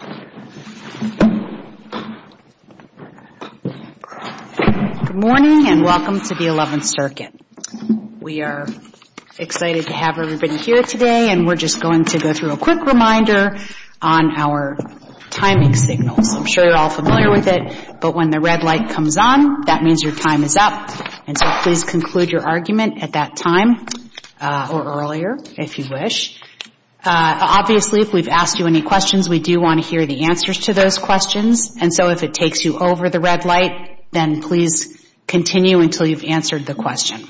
Good morning, and welcome to the 11th Circuit. We are excited to have everybody here today, and we're just going to go through a quick reminder on our timing signals. I'm sure you're all familiar with it, but when the red light comes on, that means your time is up. And so please conclude your argument at that time, or earlier, if you wish. Obviously, if we've answered those questions, and so if it takes you over the red light, then please continue until you've answered the question.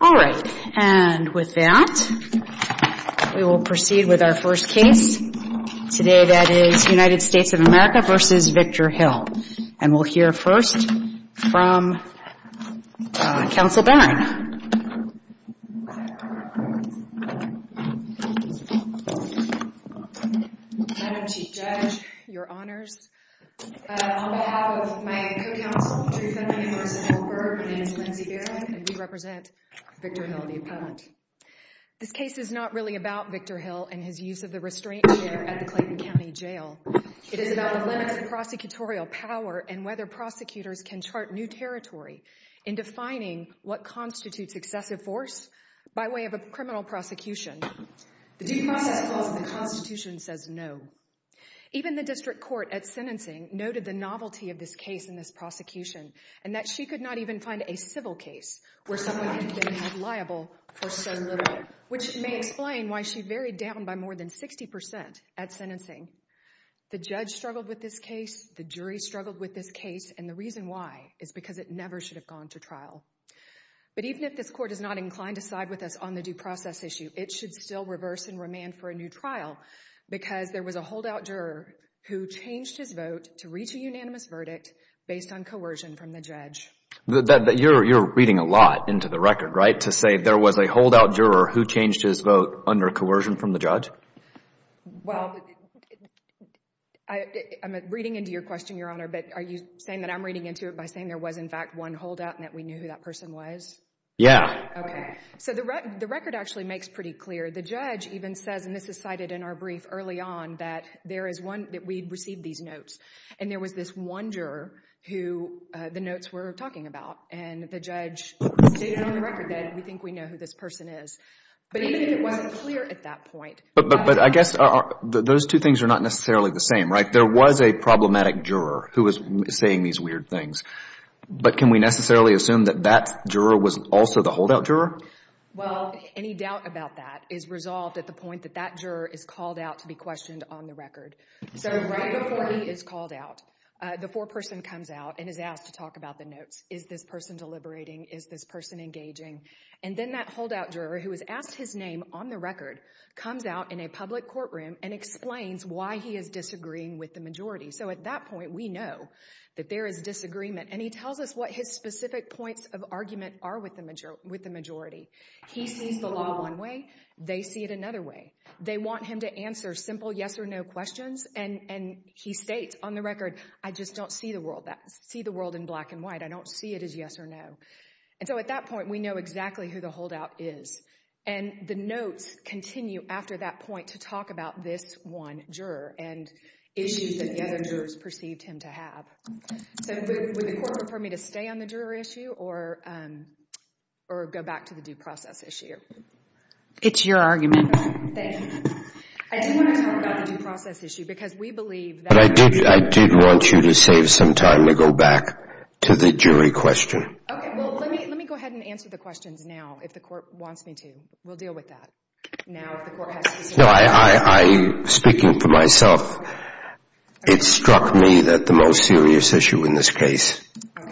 All right, and with that, we will proceed with our first case today, that is United States of America v. Victor Hill. And we'll hear first from Counsel Barron. Madam Chief Judge, your honors, on behalf of my co-counsel, Truth-Funding and Law Center Berg, my name is Lindsay Barron, and we represent Victor Hill v. Appellant. This case is not really about Victor Hill and his use of the restraint chair at the Clayton County Jail. It is about the limits of prosecutorial power and whether prosecutors can chart new territory in defining what constitutes excessive force by way of a criminal prosecution. The due process clause in the Constitution says no. Even the district court at sentencing noted the novelty of this case in this prosecution, and that she could not even find a civil case where someone had been held liable for so little, which may explain why she varied down by more than 60% at sentencing. The judge struggled with this case, the jury struggled with this case, and the reason why is because it never should have gone to trial. But even if this court is not inclined to side with us on the due process issue, it should still reverse and remand for a new trial because there was a holdout juror who changed his vote to reach a unanimous verdict based on coercion from the judge. You're reading a lot into the record, right, to say there was a holdout juror who changed his vote under coercion from the judge? Well, I'm reading into your question, Your Honor, but are you saying that I'm reading into it by saying there was, in fact, one holdout and that we knew who that person was? Yeah. Okay. So the record actually makes pretty clear. The judge even says, and this is cited in our brief early on, that there is one that we received these notes, and there was this one juror who the notes were talking about, and the judge stated on the record that we think we know who this person is. But even if it wasn't clear at that point, But I guess those two things are not necessarily the same, right? There was a problematic juror who was saying these weird things, but can we necessarily assume that that juror was also the holdout juror? Well, any doubt about that is resolved at the point that that juror is called out to be questioned on the record. So right before he is called out, the foreperson comes out and is asked to talk about the notes. Is this person deliberating? Is this person engaging? And then that holdout juror who is asked his name on the record comes out in a public courtroom and explains why he is disagreeing with the majority. So at that point, we know that there is disagreement, and he tells us what his specific points of argument are with the majority. He sees the law one way. They see it another way. They want him to answer simple yes or no questions, and he states on the record, I just don't see the world in black and white. I don't see it as yes or no. And so at that point, we know exactly who the holdout is. And the notes continue after that point to talk about this one juror and issues that the other jurors perceived him to have. So would the court prefer me to stay on the juror issue or go back to the due process issue? It's your argument. Thank you. I do want to talk about the due process issue because we believe that— But I did want you to save some time to go back to the jury question. Okay. Well, let me go ahead and answer the questions now if the court wants me to. We'll deal with that now if the court has to say— No, I—speaking for myself, it struck me that the most serious issue in this case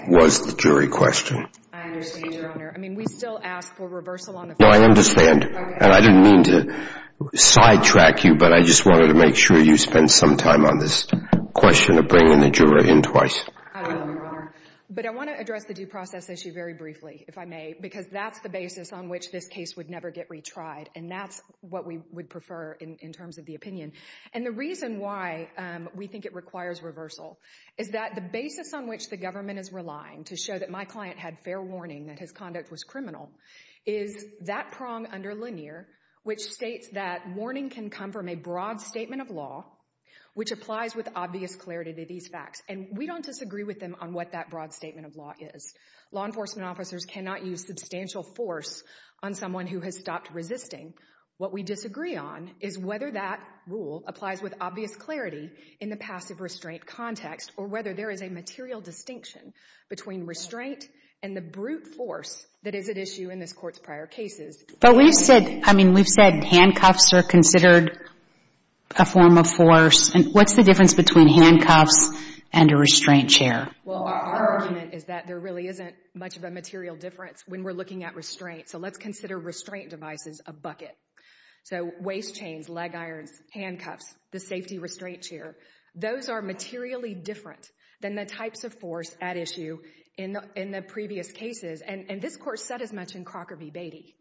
was the jury question. I understand, Your Honor. I mean, we still ask for reversal on the— No, I understand. Okay. And I didn't mean to sidetrack you, but I just wanted to make sure you spent some time on this question of bringing the juror in twice. I will, Your Honor. But I want to address the due process issue very briefly, if I may, because that's the basis on which this case would never get retried, and that's what we would prefer in terms of the opinion. And the reason why we think it requires reversal is that the basis on which the government is relying to show that my client had fair warning that his conduct was criminal is that prong under Lanier, which states that warning can come from a broad statement of law which applies with obvious clarity to these facts. And we don't disagree with them on what that broad statement of law is. Law enforcement officers cannot use substantial force on someone who has stopped resisting. What we disagree on is whether that rule applies with obvious clarity in the passive restraint context or whether there is a material distinction between restraint and the brute force that is at issue in this Court's prior cases. But we've said, I mean, we've said handcuffs are considered a form of force. What's the difference between handcuffs and a restraint chair? Well, our argument is that there really isn't much of a material difference when we're looking at restraint. So let's consider restraint devices a bucket. So waist chains, leg irons, handcuffs, the safety restraint chair, those are materially different than the types of force at issue in the previous cases. And this Court said as much in Crocker v. Beatty.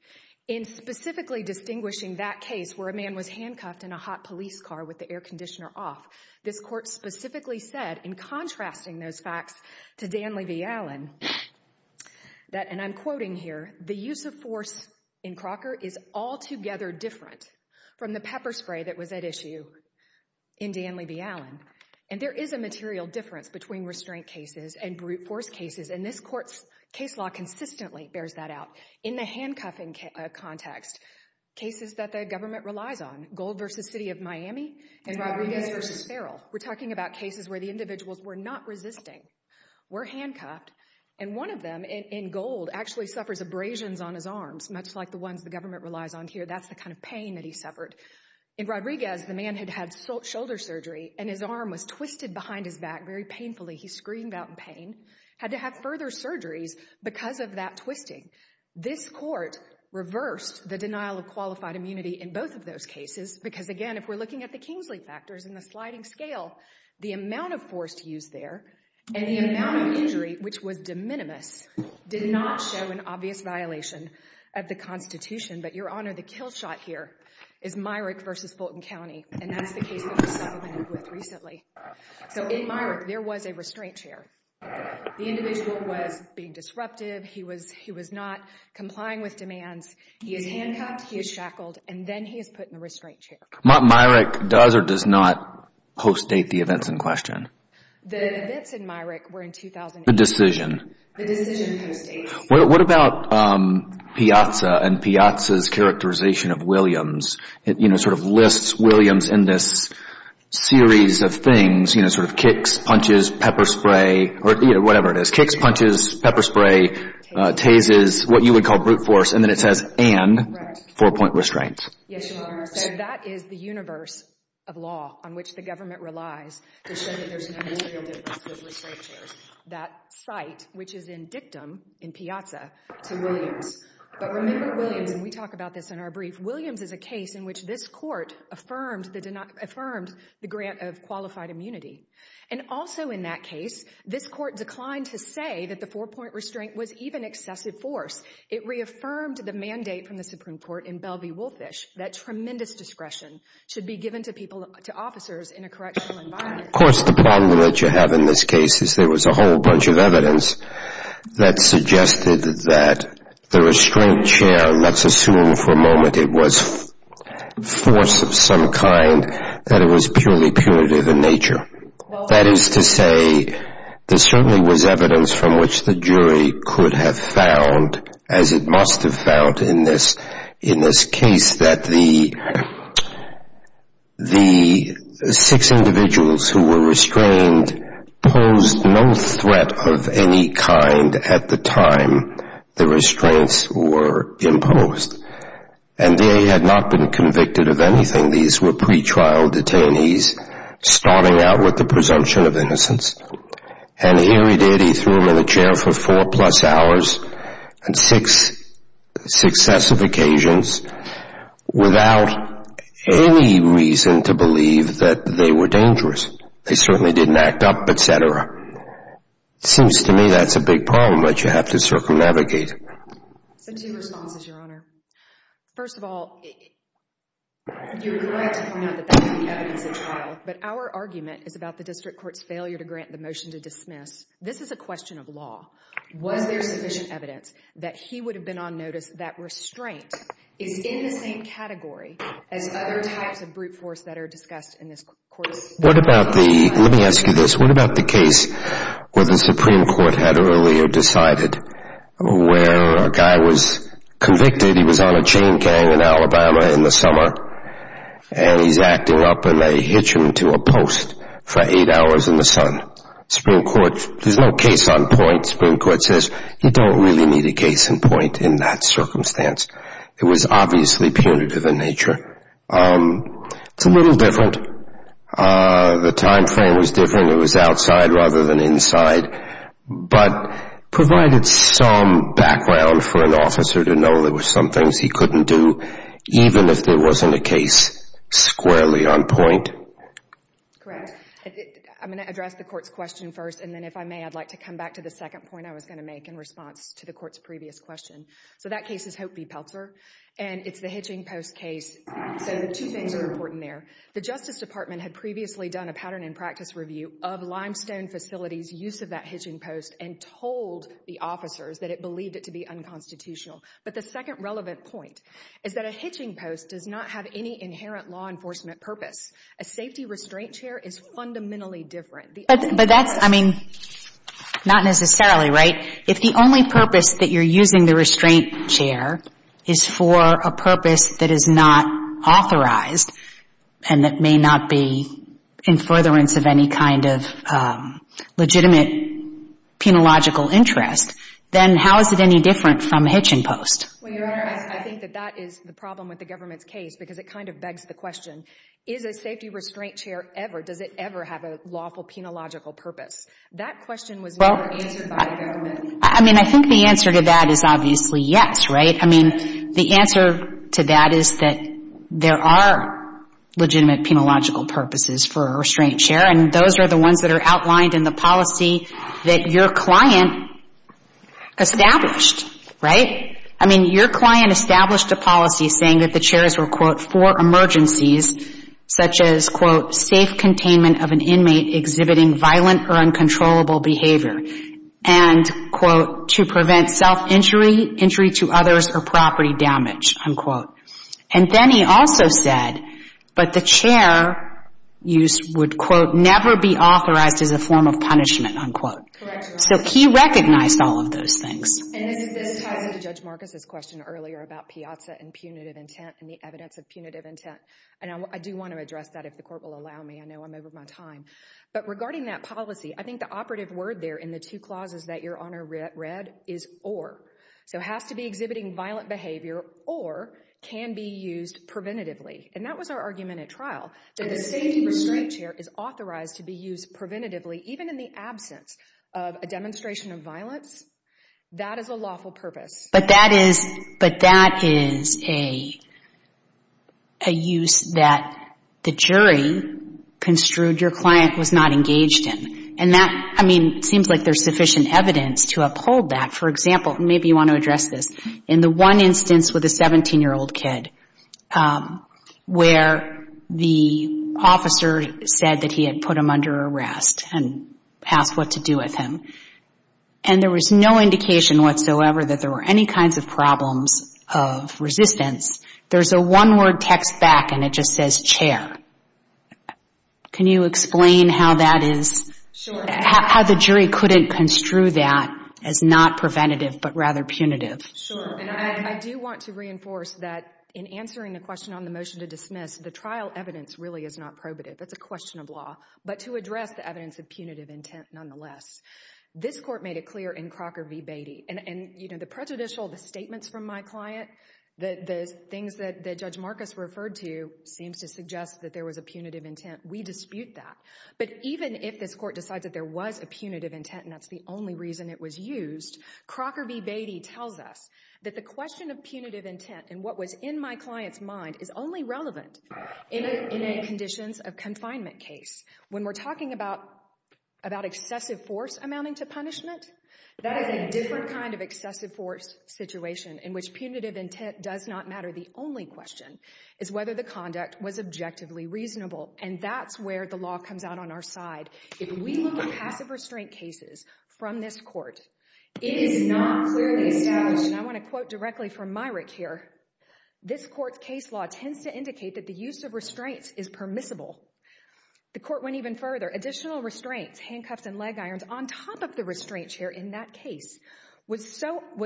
In specifically distinguishing that case where a man was handcuffed in a hot police car with the air conditioner off, this Court specifically said, in contrasting those facts to Danley v. Allen, that, and I'm quoting here, the use of force in Crocker is altogether different from the pepper spray that was at issue in Danley v. Allen. And there is a material difference between restraint cases and brute force cases, and this Court's case law consistently bears that out. In the handcuffing context, cases that the government relies on, Gold v. City of Miami and Rodriguez v. Ferrell, we're talking about cases where the individuals were not resisting, were handcuffed, and one of them, in Gold, actually suffers abrasions on his arms, much like the ones the government relies on here. That's the kind of pain that he suffered. In Rodriguez, the man had had shoulder surgery, and his arm was twisted behind his back, very painfully. He screamed out in pain, had to have further surgeries because of that twisting. This Court reversed the denial of qualified immunity in both of those cases because, again, if we're looking at the Kingsley factors and the sliding scale, the amount of force used there and the amount of injury, which was de minimis, did not show an obvious violation of the Constitution. But, Your Honor, the kill shot here is Myrick v. Fulton County, and that's the case that we've supplemented with recently. So, in Myrick, there was a restraint chair. The individual was being disruptive. He was not complying with demands. He is handcuffed, he is shackled, and then he is put in a restraint chair. Myrick does or does not post-date the events in question? The events in Myrick were in 2008. The decision? The decision post-date. What about Piazza and Piazza's characterization of Williams? It, you know, sort of lists Williams in this series of things, you know, sort of kicks, punches, pepper spray, whatever it is. Kicks, punches, pepper spray, tases, what you would call brute force, and then it says and four-point restraint. Yes, Your Honor. So, that is the universe of law on which the government relies to show that there is no material difference with restraint chairs. That site, which is in Dictum, in Piazza, to Williams. But remember Williams, and we talk about this in our brief, Williams is a case in which this court affirmed the grant of qualified immunity. And also in that case, this court declined to say that the four-point restraint was even excessive force. It reaffirmed the mandate from the Supreme Court in Belvey-Wolfish that tremendous discretion should be given to people, to officers in a correctional environment. Of course, the problem that you have in this case is there was a whole bunch of evidence that suggested that the restraint chair, let's assume for a moment it was force of some kind, that it was purely punitive in nature. That is to say, there certainly was evidence from which the jury could have found, as it posed no threat of any kind at the time the restraints were imposed. And they had not been convicted of anything. These were pre-trial detainees starting out with the presumption of innocence. And here he did, he threw them in a chair for four plus hours and six successive occasions without any reason to believe that they were dangerous. They certainly didn't act up, et cetera. It seems to me that's a big problem that you have to circumnavigate. So two responses, Your Honor. First of all, you're correct to point out that that's the evidence at trial. But our argument is about the district court's failure to grant the motion to dismiss. This is a question of law. Was there sufficient evidence that he would have been on notice that restraint is in the same category as other types of brute force that are discussed in this court? What about the, let me ask you this, what about the case where the Supreme Court had earlier decided where a guy was convicted, he was on a chain gang in Alabama in the summer, and he's acting up and they hitch him to a post for eight hours in the sun. Supreme Court, there's no case on point. Supreme Court says you don't really need a case in point in that circumstance. It was obviously punitive in nature. It's a little different. The time frame was different. It was outside rather than inside. But provided some background for an officer to know there were some things he couldn't do, even if there wasn't a case squarely on point. Correct. I'm going to address the court's question first, and then if I may, I'd like to come back to the second point I was going to make in response to the court's previous question. So that case is Hope v. Pelzer, and it's the hitching post case. So two things are important there. The Justice Department had previously done a pattern and practice review of Limestone Facility's use of that hitching post and told the officers that it believed it to be unconstitutional. But the second relevant point is that a hitching post does not have any inherent law enforcement purpose. A safety restraint chair is fundamentally different. But that's, I mean, not necessarily, right? If the only purpose that you're using the restraint chair is for a purpose that is not authorized and that may not be in furtherance of any kind of legitimate penological interest, then how is it any different from a hitching post? I think that that is the problem with the government's case because it kind of begs the question, is a safety restraint chair ever, does it ever have a lawful penological purpose? That question was never answered by the government. I mean, I think the answer to that is obviously yes, right? I mean, the answer to that is that there are legitimate penological purposes for a restraint chair, and those are the ones that are outlined in the policy that your client established, right? I mean, your client established a policy saying that the chairs were, quote, for emergencies such as, quote, safe containment of an inmate exhibiting violent or uncontrollable behavior, and, quote, to prevent self-injury, injury to others, or property damage, unquote. And then he also said that the chair use would, quote, never be authorized as a form of punishment, unquote. Correct. So he recognized all of those things. And this ties into Judge Marcus's question earlier about piazza and punitive intent and the evidence of punitive intent. And I do want to address that if the court will allow me. I know I'm over my time. But regarding that policy, I think the operative word there in the two clauses that Your Honor read is or. So has to be exhibiting violent behavior or can be used preventatively. And that was our argument at trial, that a safety restraint chair is authorized to be used preventatively even in the absence of a demonstration of violence. That is a lawful purpose. But that is a use that the jury construed your client was not engaged in. And that, I mean, seems like there's sufficient evidence to uphold that. For example, maybe you want to address this. In the one instance with a 17-year-old kid where the officer said that he had put him under arrest and asked what to do with him, and there was no indication whatsoever that there were any kinds of problems of resistance, there's a one-word text back, and it just says chair. Can you explain how that is? Sure. How the jury couldn't construe that as not preventative but rather punitive? Sure. And I do want to reinforce that in answering the question on the motion to dismiss, the trial evidence really is not probative. That's a question of law. But to address the evidence of punitive intent nonetheless, this court made it clear in Crocker v. Beatty. And, you know, the prejudicial statements from my client, the things that Judge Marcus referred to seems to suggest that there was a punitive intent. We dispute that. But even if this court decides that there was a punitive intent and that's the only reason it was used, Crocker v. Beatty tells us that the question of punitive intent and what was in my client's mind is only relevant in a conditions of confinement case. When we're talking about excessive force amounting to punishment, that is a different kind of excessive force situation in which punitive intent does not matter. The only question is whether the conduct was objectively reasonable, and that's where the law comes out on our side. If we look at passive restraint cases from this court, it is not clearly established, and I want to quote directly from Myrick here, this court's case law tends to indicate that the use of restraints is permissible. The court went even further. Additional restraints, handcuffs and leg irons, on top of the restraint chair in that case was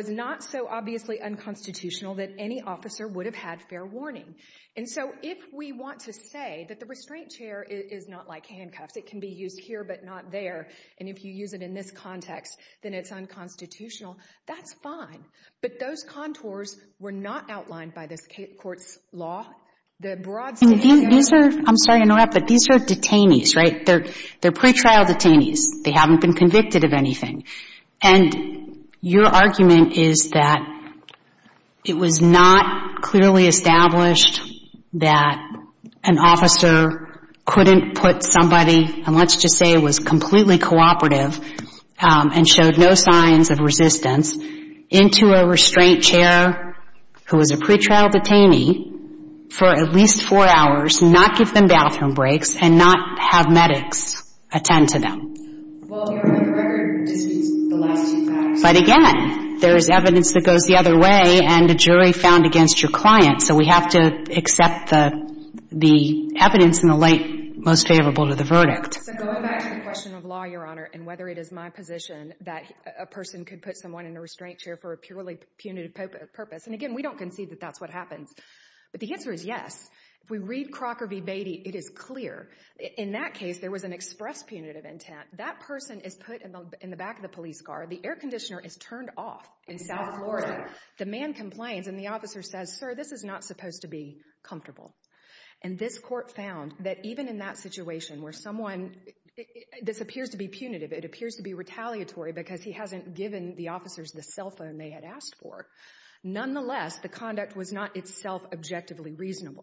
not so obviously unconstitutional that any officer would have had fair warning. And so if we want to say that the restraint chair is not like handcuffs, it can be used here but not there, and if you use it in this context, then it's unconstitutional, that's fine. But those contours were not outlined by this court's law. The broad state of the area— I'm sorry to interrupt, but these are detainees, right? They're pretrial detainees. They haven't been convicted of anything. And your argument is that it was not clearly established that an officer couldn't put somebody, and let's just say it was completely cooperative and showed no signs of resistance, into a restraint chair who was a pretrial detainee for at least four hours, not give them bathroom breaks and not have medics attend to them. Well, your record disputes the last two facts. But again, there is evidence that goes the other way and a jury found against your client, so we have to accept the evidence in the light most favorable to the verdict. So going back to the question of law, Your Honor, and whether it is my position that a person could put someone in a restraint chair for a purely punitive purpose, and again, we don't concede that that's what happens, but the answer is yes. If we read Crocker v. Beatty, it is clear. In that case, there was an express punitive intent. That person is put in the back of the police car. The air conditioner is turned off in South Florida. The man complains, and the officer says, Sir, this is not supposed to be comfortable. And this court found that even in that situation where someone, this appears to be punitive, it appears to be retaliatory because he hasn't given the officers the cell phone they had asked for. Nonetheless, the conduct was not itself objectively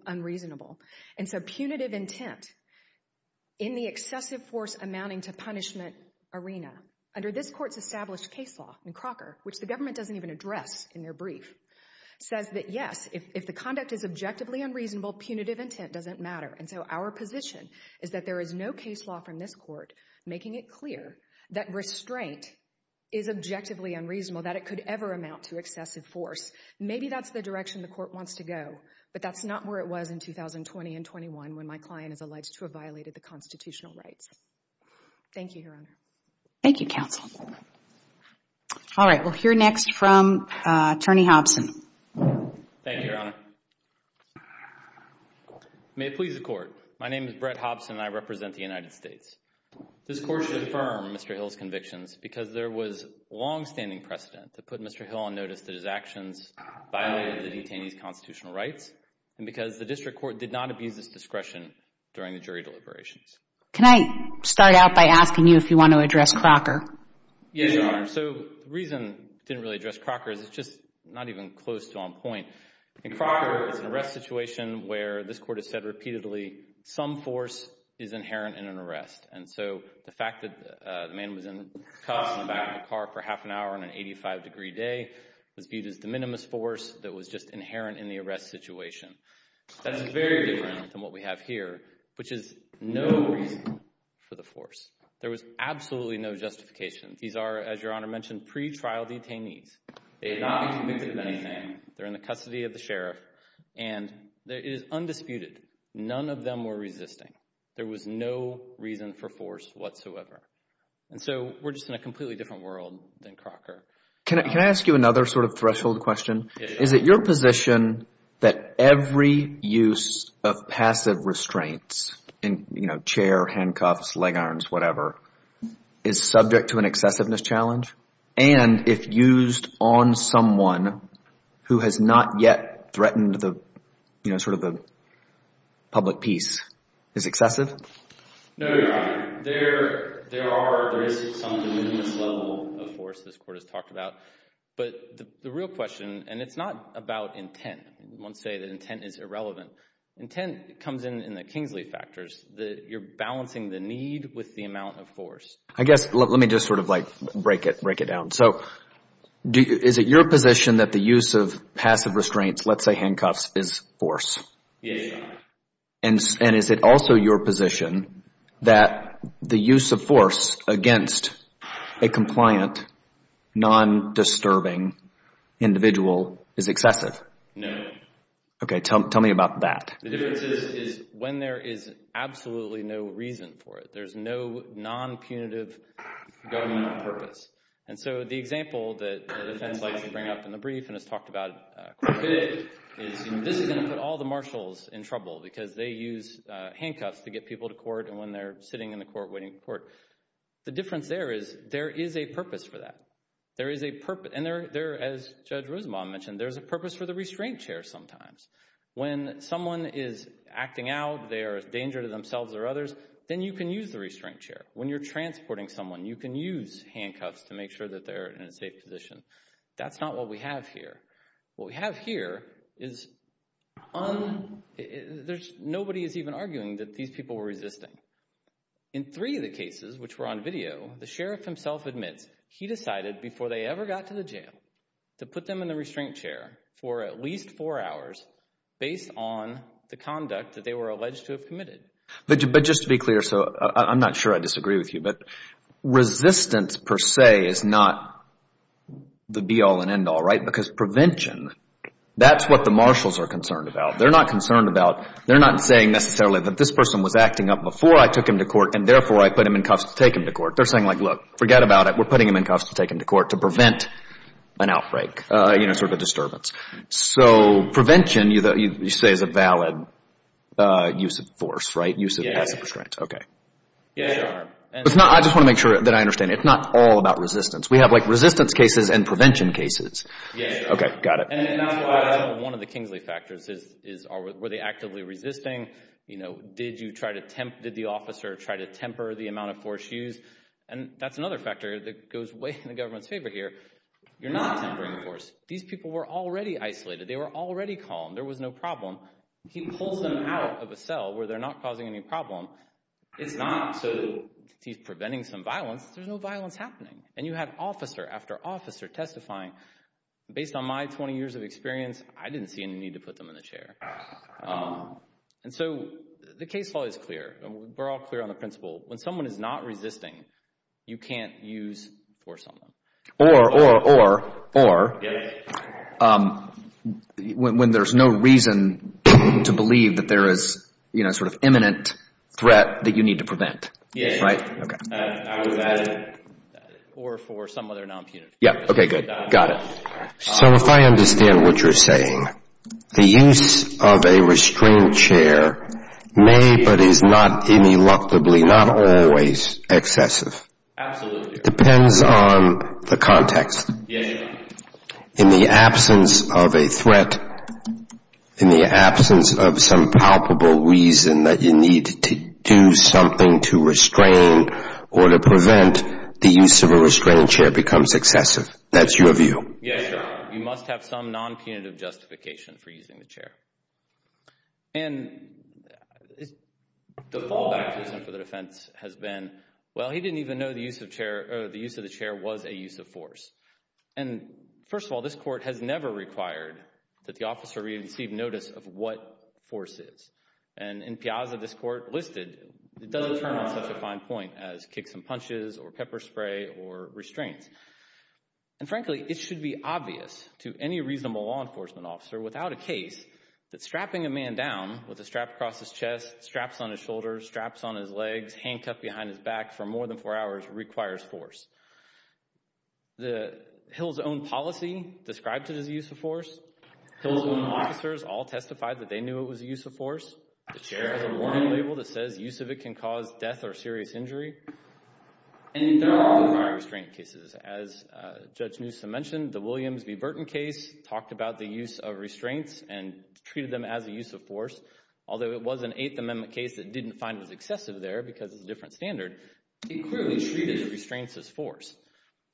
unreasonable. And so punitive intent in the excessive force amounting to punishment arena, under this court's established case law in Crocker, which the government doesn't even address in their brief, says that yes, if the conduct is objectively unreasonable, punitive intent doesn't matter. And so our position is that there is no case law from this court making it clear that restraint is objectively unreasonable, that it could ever amount to excessive force. Maybe that's the direction the court wants to go, but that's not where it was in 2020 and 21 when my client is alleged to have violated the constitutional rights. Thank you, Your Honor. Thank you, counsel. All right, we'll hear next from Attorney Hobson. Thank you, Your Honor. May it please the Court, my name is Brett Hobson and I represent the United States. This court should affirm Mr. Hill's convictions because there was longstanding precedent to put Mr. Hill on notice that his actions violated the detainee's constitutional rights and because the district court did not abuse his discretion during the jury deliberations. Can I start out by asking you if you want to address Crocker? Yes, Your Honor. So the reason I didn't really address Crocker is it's just not even close to on point. In Crocker, it's an arrest situation where this court has said repeatedly some force is inherent in an arrest. And so the fact that the man was in cuffs in the back of the car for half an hour on an 85-degree day was viewed as the minimus force that was just inherent in the arrest situation. That's very different than what we have here, which is no reason for the force. There was absolutely no justification. These are, as Your Honor mentioned, pre-trial detainees. They have not been convicted of anything. They're in the custody of the sheriff and it is undisputed. None of them were resisting. There was no reason for force whatsoever. And so we're just in a completely different world than Crocker. Can I ask you another sort of threshold question? Is it your position that every use of passive restraints in chair, handcuffs, leg irons, whatever, is subject to an excessiveness challenge? And if used on someone who has not yet threatened sort of the public peace, is excessive? No, Your Honor. There is some minimus level of force this court has talked about. But the real question, and it's not about intent. We won't say that intent is irrelevant. Intent comes in in the Kingsley factors. You're balancing the need with the amount of force. I guess let me just sort of like break it down. So is it your position that the use of passive restraints, let's say handcuffs, is force? Yes, Your Honor. And is it also your position that the use of force against a compliant, non-disturbing individual is excessive? No. OK, tell me about that. The difference is when there is absolutely no reason for it. There's no non-punitive government purpose. And so the example that the defense likes to bring up in the brief and has talked about quite a bit is this is going to put all the marshals in trouble because they use handcuffs to get people to court. And when they're sitting in the court waiting for court, the difference there is there is a purpose for that. And as Judge Rosenbaum mentioned, there's a purpose for the restraint chair sometimes. When someone is acting out, they are a danger to themselves or others, then you can use the restraint chair. When you're transporting someone, you can use handcuffs to make sure that they're in a safe position. That's not what we have here. What we have here is nobody is even arguing that these people were resisting. In three of the cases which were on video, the sheriff himself admits he decided before they ever got to the jail to put them in the restraint chair for at least four hours based on the conduct that they were alleged to have committed. But just to be clear, so I'm not sure I disagree with you, but resistance per se is not the be all and end all, right? Because prevention, that's what the marshals are concerned about. They're not concerned about, they're not saying necessarily that this person was acting up before I took him to court and therefore I put him in cuffs to take him to court. They're saying like, look, forget about it. We're putting him in cuffs to take him to court to prevent an outbreak, you know, sort of a disturbance. So prevention, you say, is a valid use of force, right? Use of passive restraint. Okay. Yes, Your Honor. I just want to make sure that I understand. It's not all about resistance. We have like resistance cases and prevention cases. Yes, Your Honor. Okay, got it. And that's why one of the Kingsley factors is were they actively resisting? You know, did the officer try to temper the amount of force used? And that's another factor that goes way in the government's favor here. You're not tempering the force. These people were already isolated. They were already calm. There was no problem. He pulls them out of a cell where they're not causing any problem. It's not so that he's preventing some violence. There's no violence happening. And you have officer after officer testifying. Based on my 20 years of experience, I didn't see any need to put them in a chair. And so the case law is clear. We're all clear on the principle. When someone is not resisting, you can't use force on them. Or, or, or, or. Yes. When there's no reason to believe that there is, you know, sort of imminent threat that you need to prevent. Yes. Right? I would imagine. Or for some other non-punitive. Yes. Okay, good. Got it. So if I understand what you're saying, the use of a restrained chair may but is not ineluctably, not always, excessive. Absolutely. It depends on the context. Yes. In the absence of a threat, in the absence of some palpable reason that you need to do something to restrain or to prevent, the use of a restrained chair becomes excessive. That's your view. Yes, sir. You must have some non-punitive justification for using the chair. And the fallback for the defense has been, well, he didn't even know the use of the chair was a use of force. And, first of all, this Court has never required that the officer receive notice of what force is. And in Piazza, this Court listed, it doesn't turn on such a fine point as kick some punches or pepper spray or restraint. And, frankly, it should be obvious to any reasonable law enforcement officer, without a case, that strapping a man down with a strap across his chest, straps on his shoulders, straps on his legs, handcuffed behind his back for more than four hours requires force. Hill's own policy described it as a use of force. Hill's own officers all testified that they knew it was a use of force. The chair has a warning label that says use of it can cause death or serious injury. And there are other prior restraint cases. As Judge Newsom mentioned, the Williams v. Burton case talked about the use of restraints and treated them as a use of force. Although it was an Eighth Amendment case that didn't find it excessive there because it's a different standard, it clearly treated restraints as force.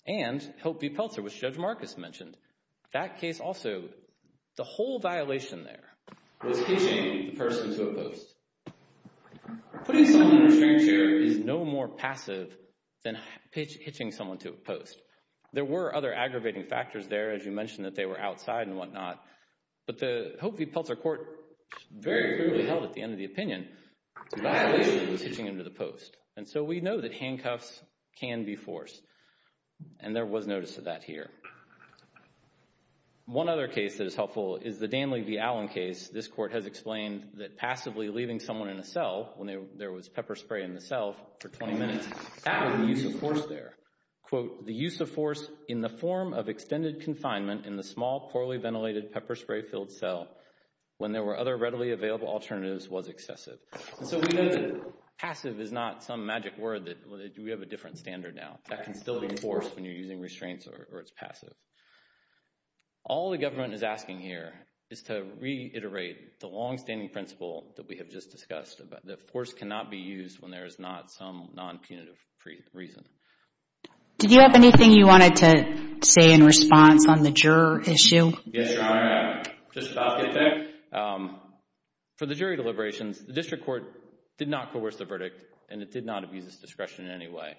And Hope v. Peltzer, which Judge Marcus mentioned, that case also, the whole violation there, was pitching the person to a post. Putting someone in a restraining chair is no more passive than pitching someone to a post. There were other aggravating factors there, as you mentioned that they were outside and whatnot. But the Hope v. Peltzer court very clearly held at the end of the opinion the violation was pitching them to the post. And so we know that handcuffs can be forced. And there was notice of that here. One other case that is helpful is the Danley v. Allen case. This court has explained that passively leaving someone in a cell when there was pepper spray in the cell for 20 minutes, that was a use of force there. Quote, the use of force in the form of extended confinement in the small, poorly ventilated pepper spray-filled cell when there were other readily available alternatives was excessive. And so we know that passive is not some magic word. We have a different standard now. That can still be force when you're using restraints or it's passive. All the government is asking here is to reiterate the longstanding principle that we have just discussed, that force cannot be used when there is not some non-punitive reason. Did you have anything you wanted to say in response on the juror issue? Yes, Your Honor. I'm just about to get there. For the jury deliberations, the district court did not coerce the verdict and it did not abuse its discretion in any way.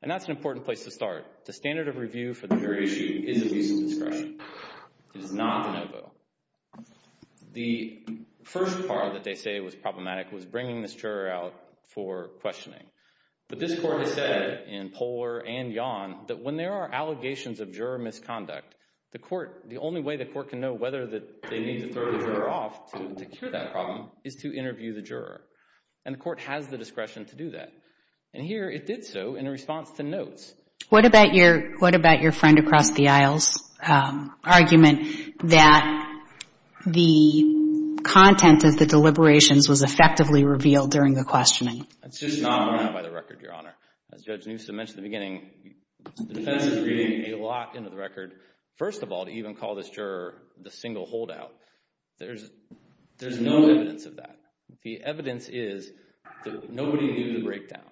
And that's an important place to start. The standard of review for the jury issue is abuse of discretion. It is not the no-go. The first part that they say was problematic was bringing this juror out for questioning. But this court has said in polar and yawn that when there are allegations of juror misconduct, the only way the court can know whether they need to throw the juror off to cure that problem is to interview the juror. And the court has the discretion to do that. And here it did so in response to notes. What about your friend across the aisle's argument that the content of the deliberations was effectively revealed during the questioning? It's just not brought out by the record, Your Honor. As Judge Newsom mentioned in the beginning, the defense is reading a lot into the record. First of all, to even call this juror the single holdout, there's no evidence of that. The evidence is that nobody knew the breakdown.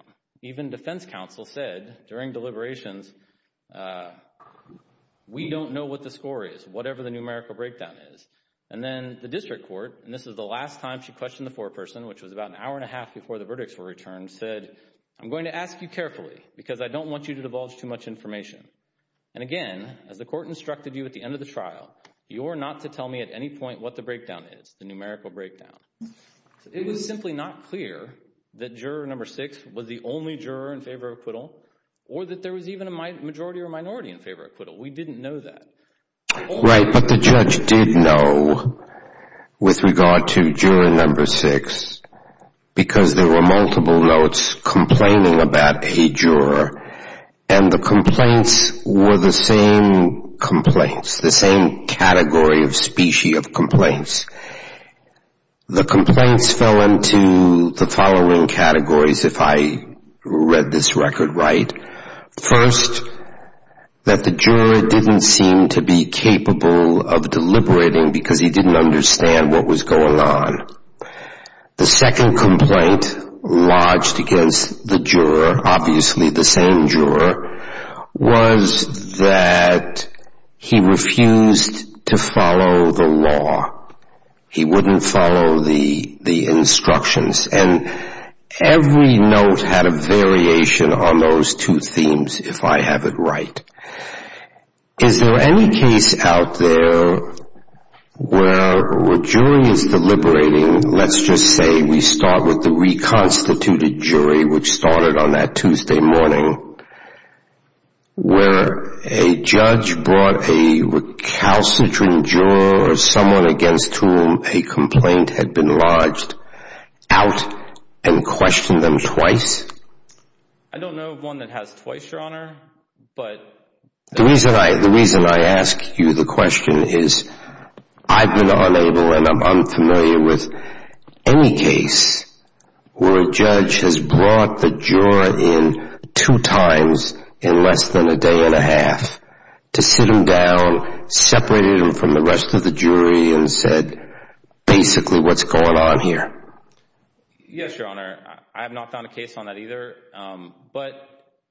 Even defense counsel said during deliberations, we don't know what the score is, whatever the numerical breakdown is. And then the district court, and this is the last time she questioned the foreperson, which was about an hour and a half before the verdicts were returned, said, I'm going to ask you carefully because I don't want you to divulge too much information. And again, as the court instructed you at the end of the trial, you are not to tell me at any point what the breakdown is, the numerical breakdown. It was simply not clear that juror number six was the only juror in favor of acquittal or that there was even a majority or minority in favor of acquittal. We didn't know that. Right, but the judge did know with regard to juror number six because there were multiple notes complaining about a juror, and the complaints were the same complaints, the same category of species of complaints. The complaints fell into the following categories, if I read this record right. First, that the juror didn't seem to be capable of deliberating because he didn't understand what was going on. The second complaint lodged against the juror, obviously the same juror, was that he refused to follow the law. He wouldn't follow the instructions. And every note had a variation on those two themes, if I have it right. Is there any case out there where a jury is deliberating, let's just say we start with the reconstituted jury, which started on that Tuesday morning, where a judge brought a recalcitrant juror or someone against whom a complaint had been lodged out and questioned them twice? I don't know of one that has twice, Your Honor. The reason I ask you the question is I've been unable and I'm unfamiliar with any case where a judge has brought the juror in two times in less than a day and a half to sit him down, separated him from the rest of the jury, and said basically what's going on here. Yes, Your Honor. I have not found a case on that either. But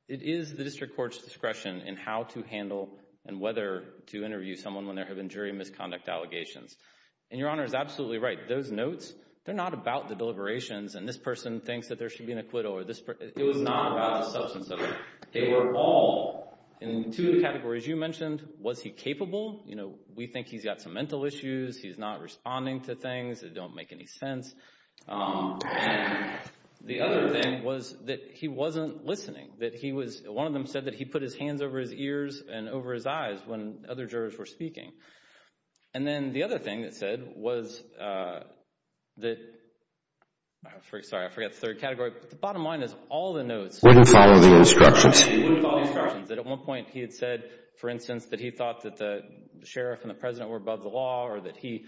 it is the district court's discretion in how to handle and whether to interview someone when there have been jury misconduct allegations. And Your Honor is absolutely right. Those notes, they're not about the deliberations and this person thinks that there should be an acquittal. It was not about the substance of it. They were all, in two of the categories you mentioned, was he capable? We think he's got some mental issues. He's not responding to things that don't make any sense. And the other thing was that he wasn't listening. One of them said that he put his hands over his ears and over his eyes when other jurors were speaking. And then the other thing that said was that, sorry, I forgot the third category, but the bottom line is all the notes wouldn't follow the instructions. At one point he had said, for instance, that he thought that the sheriff and the president were above the law or that he,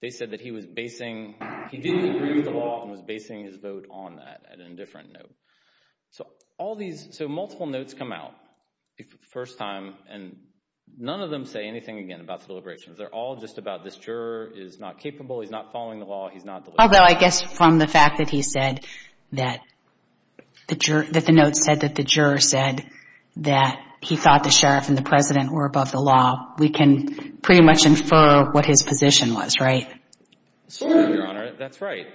they said that he was basing, he didn't agree with the law and was basing his vote on that at a different note. So all these, so multiple notes come out the first time and none of them say anything again about the deliberations. They're all just about this juror is not capable. He's not following the law. He's not deliberating. Although I guess from the fact that he said that the note said that the juror said that he thought the sheriff and the president were above the law, we can pretty much infer what his position was, right? Certainly, Your Honor. That's right.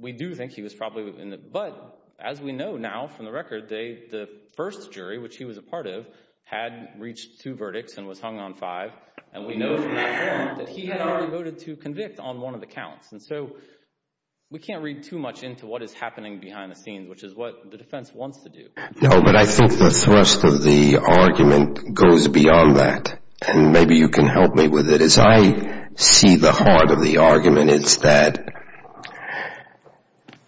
We do think he was probably in the, but as we know now from the record, the first jury, which he was a part of, had reached two verdicts and was hung on five. And we know from that point that he had already voted to convict on one of the counts. And so we can't read too much into what is happening behind the scenes, which is what the defense wants to do. No, but I think the thrust of the argument goes beyond that. And maybe you can help me with it. As I see the heart of the argument, it's that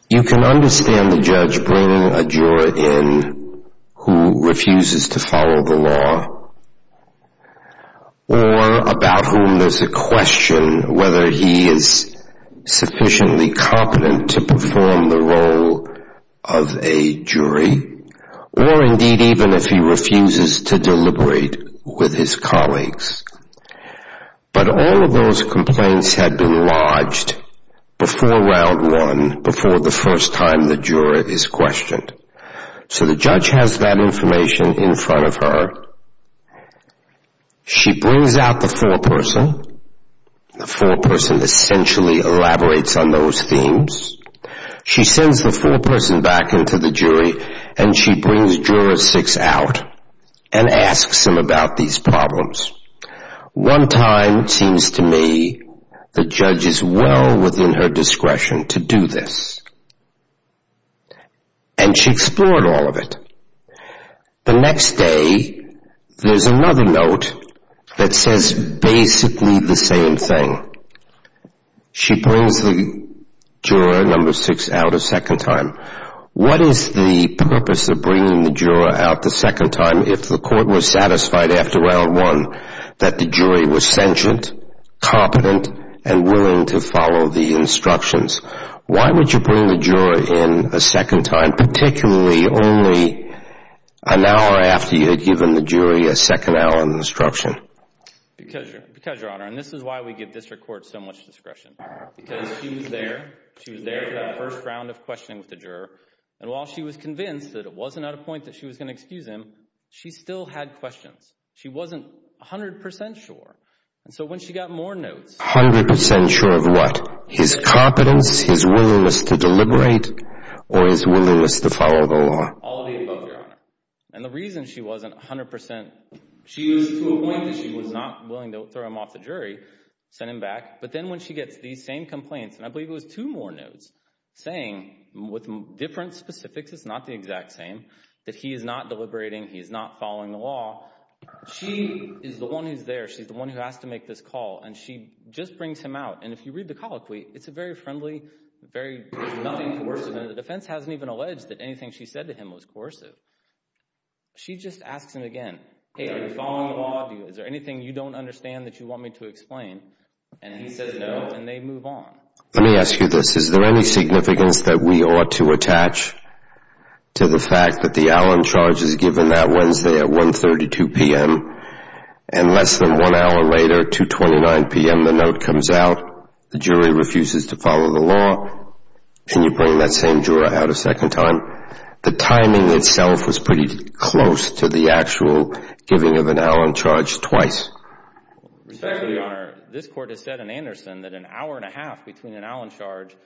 you can understand the judge bringing a juror in who refuses to follow the law or about whom there's a question whether he is sufficiently competent to perform the role of a jury or indeed even if he refuses to deliberate with his colleagues. But all of those complaints had been lodged before round one, before the first time the juror is questioned. So the judge has that information in front of her. She brings out the foreperson. The foreperson essentially elaborates on those themes. She sends the foreperson back into the jury, and she brings juror six out and asks him about these problems. One time it seems to me the judge is well within her discretion to do this. And she explored all of it. The next day there's another note that says basically the same thing. She brings the juror number six out a second time. What is the purpose of bringing the juror out the second time if the court was satisfied after round one that the jury was sentient, competent, and willing to follow the instructions? Why would you bring the juror in a second time, particularly only an hour after you had given the jury a second hour instruction? Because, Your Honor, and this is why we give district courts so much discretion. Because she was there for that first round of questioning with the juror, and while she was convinced that it wasn't at a point that she was going to excuse him, she still had questions. She wasn't 100% sure. And so when she got more notes, 100% sure of what? His competence, his willingness to deliberate, or his willingness to follow the law? All of the above, Your Honor. And the reason she wasn't 100% sure, she was to a point that she was not willing to throw him off the jury, send him back. But then when she gets these same complaints, and I believe it was two more notes, saying with different specifics, it's not the exact same, that he is not deliberating, he is not following the law. She is the one who's there. She's the one who has to make this call, and she just brings him out. And if you read the colloquy, it's a very friendly, very nothing coercive. The defense hasn't even alleged that anything she said to him was coercive. She just asks him again, Hey, are you following the law? Is there anything you don't understand that you want me to explain? And he says no, and they move on. Let me ask you this. Is there any significance that we ought to attach to the fact that the Allen charge is given that Wednesday at 1.32 p.m., and less than one hour later, 2.29 p.m., the note comes out, the jury refuses to follow the law, and you bring that same juror out a second time? The timing itself was pretty close to the actual giving of an Allen charge twice. Your Honor, this Court has said in Anderson that an hour and a half between an Allen charge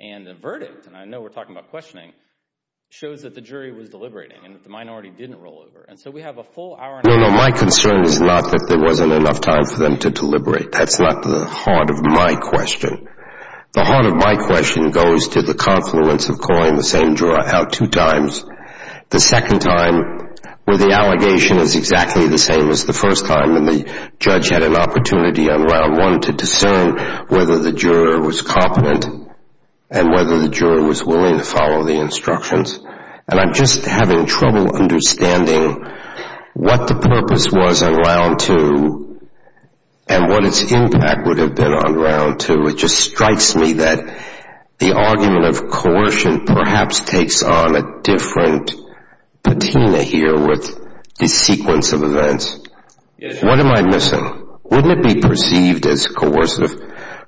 and the verdict, and I know we're talking about questioning, shows that the jury was deliberating and that the minority didn't roll over. And so we have a full hour and a half. No, no, my concern is not that there wasn't enough time for them to deliberate. That's not the heart of my question. The heart of my question goes to the confluence of calling the same juror out two times, the second time where the allegation is exactly the same as the first time and the judge had an opportunity on Round 1 to discern whether the juror was competent and whether the juror was willing to follow the instructions. And I'm just having trouble understanding what the purpose was on Round 2 and what its impact would have been on Round 2. It just strikes me that the argument of coercion perhaps takes on a different patina here with the sequence of events. What am I missing? Wouldn't it be perceived as coercive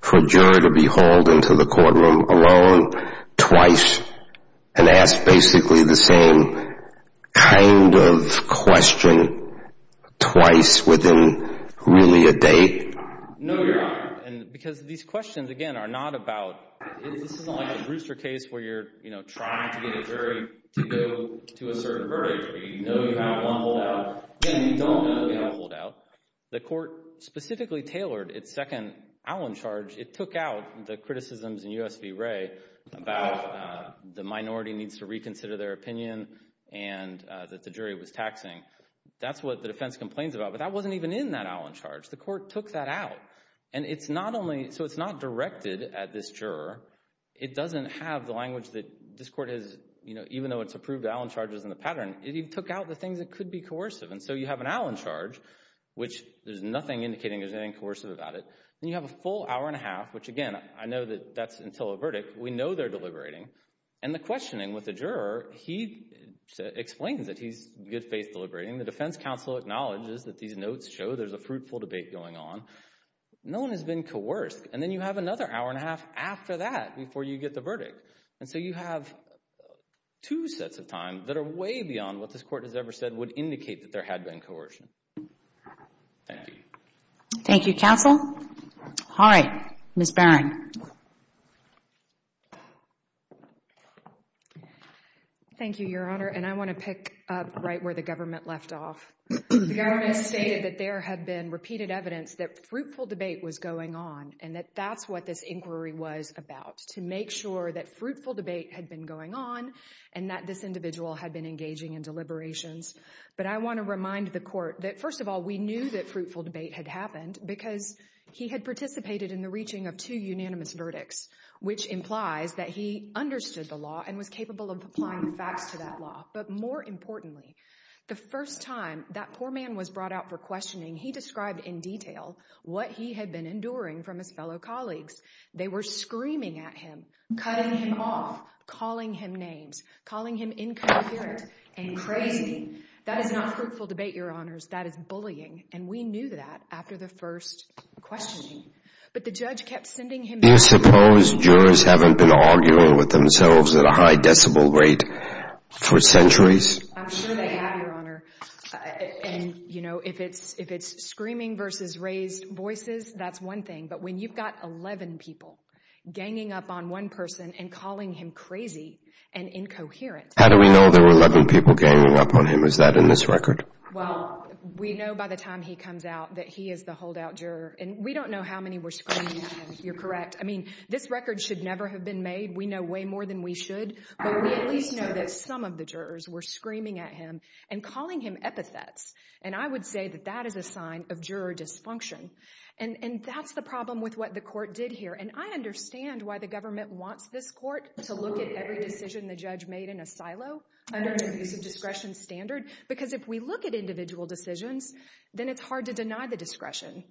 for a juror to be hauled into the courtroom alone twice and asked basically the same kind of question twice within really a day? No, Your Honor, because these questions, again, are not about this isn't like a rooster case where you're trying to get a jury to go to a certain verdict. You know you have one holdout. Again, you don't know you have a holdout. The court specifically tailored its second Allen charge. It took out the criticisms in U.S. v. Wray about the minority needs to reconsider their opinion and that the jury was taxing. That's what the defense complains about, but that wasn't even in that Allen charge. The court took that out, and it's not only, so it's not directed at this juror. It doesn't have the language that this court has, you know, even though it's approved Allen charges in the pattern, it took out the things that could be coercive. And so you have an Allen charge, which there's nothing indicating there's anything coercive about it. Then you have a full hour and a half, which, again, I know that that's until a verdict. We know they're deliberating. And the questioning with the juror, he explains that he's good faith deliberating. The defense counsel acknowledges that these notes show there's a fruitful debate going on. No one has been coerced. And then you have another hour and a half after that before you get the verdict. And so you have two sets of time that are way beyond what this court has ever said would indicate that there had been coercion. Thank you. Thank you, counsel. All right, Ms. Barron. Thank you, Your Honor. And I want to pick up right where the government left off. The government stated that there had been repeated evidence that fruitful debate was going on and that that's what this inquiry was about, to make sure that fruitful debate had been going on and that this individual had been engaging in deliberations. But I want to remind the court that, first of all, we knew that fruitful debate had happened because he had participated in the reaching of two unanimous verdicts, which implies that he understood the law and was capable of applying the facts to that law. But more importantly, the first time that poor man was brought out for questioning, he described in detail what he had been enduring from his fellow colleagues. They were screaming at him, cutting him off, calling him names, calling him incoherent and crazy. That is not fruitful debate, Your Honors. That is bullying. And we knew that after the first questioning. But the judge kept sending him— Do you suppose jurors haven't been arguing with themselves at a high decibel rate for centuries? I'm sure they have, Your Honor. And, you know, if it's screaming versus raised voices, that's one thing. But when you've got 11 people ganging up on one person and calling him crazy and incoherent— How do we know there were 11 people ganging up on him? Is that in this record? Well, we know by the time he comes out that he is the holdout juror. And we don't know how many were screaming at him, if you're correct. I mean, this record should never have been made. We know way more than we should. But we at least know that some of the jurors were screaming at him and calling him epithets. And I would say that that is a sign of juror dysfunction. And that's the problem with what the court did here. And I understand why the government wants this court to look at every decision the judge made in a silo under an abuse of discretion standard. Because if we look at individual decisions, then it's hard to deny the discretion.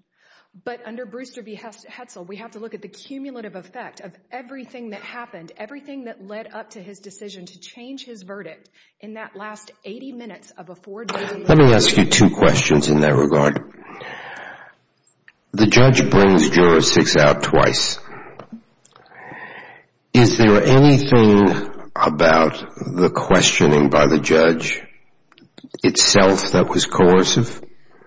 But under Brewster v. Hetzel, we have to look at the cumulative effect of everything that happened, everything that led up to his decision to change his verdict in that last 80 minutes of a four-day hearing. Let me ask you two questions in that regard. The judge brings jurisdicts out twice. Is there anything about the questioning by the judge itself that was coercive?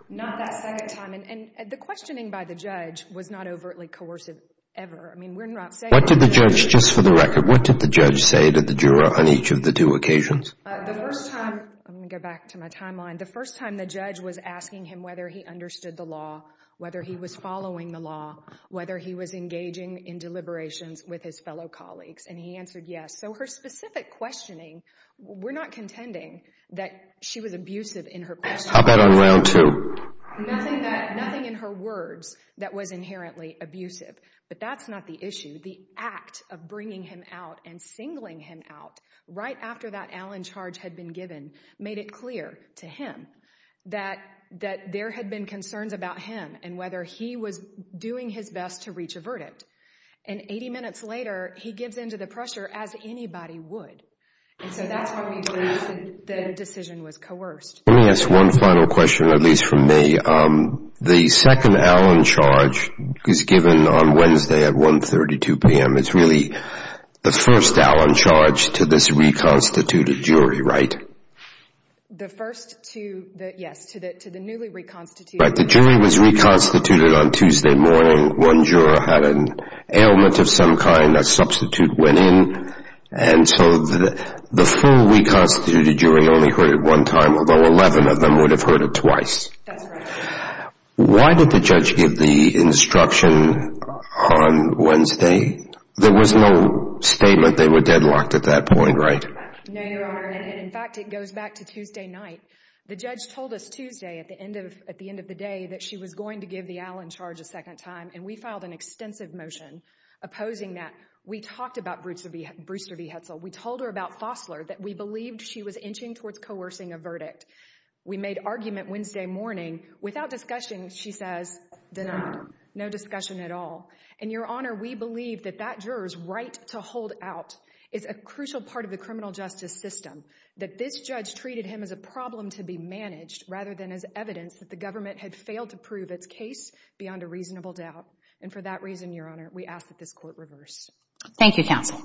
Not that second time. And the questioning by the judge was not overtly coercive ever. I mean, we're not saying that. What did the judge, just for the record, what did the judge say to the juror on each of the two occasions? The first time, I'm going to go back to my timeline, the first time the judge was asking him whether he understood the law, whether he was following the law, whether he was engaging in deliberations with his fellow colleagues. And he answered yes. So her specific questioning, we're not contending that she was abusive in her questioning. How about on round two? Nothing in her words that was inherently abusive. But that's not the issue. The act of bringing him out and singling him out right after that Allen charge had been given made it clear to him that there had been concerns about him and whether he was doing his best to reach a verdict. And 80 minutes later, he gives in to the pressure as anybody would. And so that's why we believe the decision was coerced. Let me ask one final question, at least from me. The second Allen charge was given on Wednesday at 1.32 p.m. It's really the first Allen charge to this reconstituted jury, right? The first to the newly reconstituted. Right. The jury was reconstituted on Tuesday morning. One juror had an ailment of some kind. A substitute went in. And so the full reconstituted jury only heard it one time, although 11 of them would have heard it twice. That's right. Why did the judge give the instruction on Wednesday? There was no statement they were deadlocked at that point, right? No, Your Honor. And, in fact, it goes back to Tuesday night. The judge told us Tuesday at the end of the day that she was going to give the Allen charge a second time. And we filed an extensive motion opposing that. We talked about Brewster v. Hetzel. We told her about Fossler, that we believed she was inching towards coercing a verdict. We made argument Wednesday morning. Without discussion, she says, denied. No discussion at all. And, Your Honor, we believe that that juror's right to hold out is a crucial part of the criminal justice system, that this judge treated him as a problem to be managed rather than as evidence that the government had failed to prove its case beyond a reasonable doubt. And for that reason, Your Honor, we ask that this court reverse. Thank you, counsel.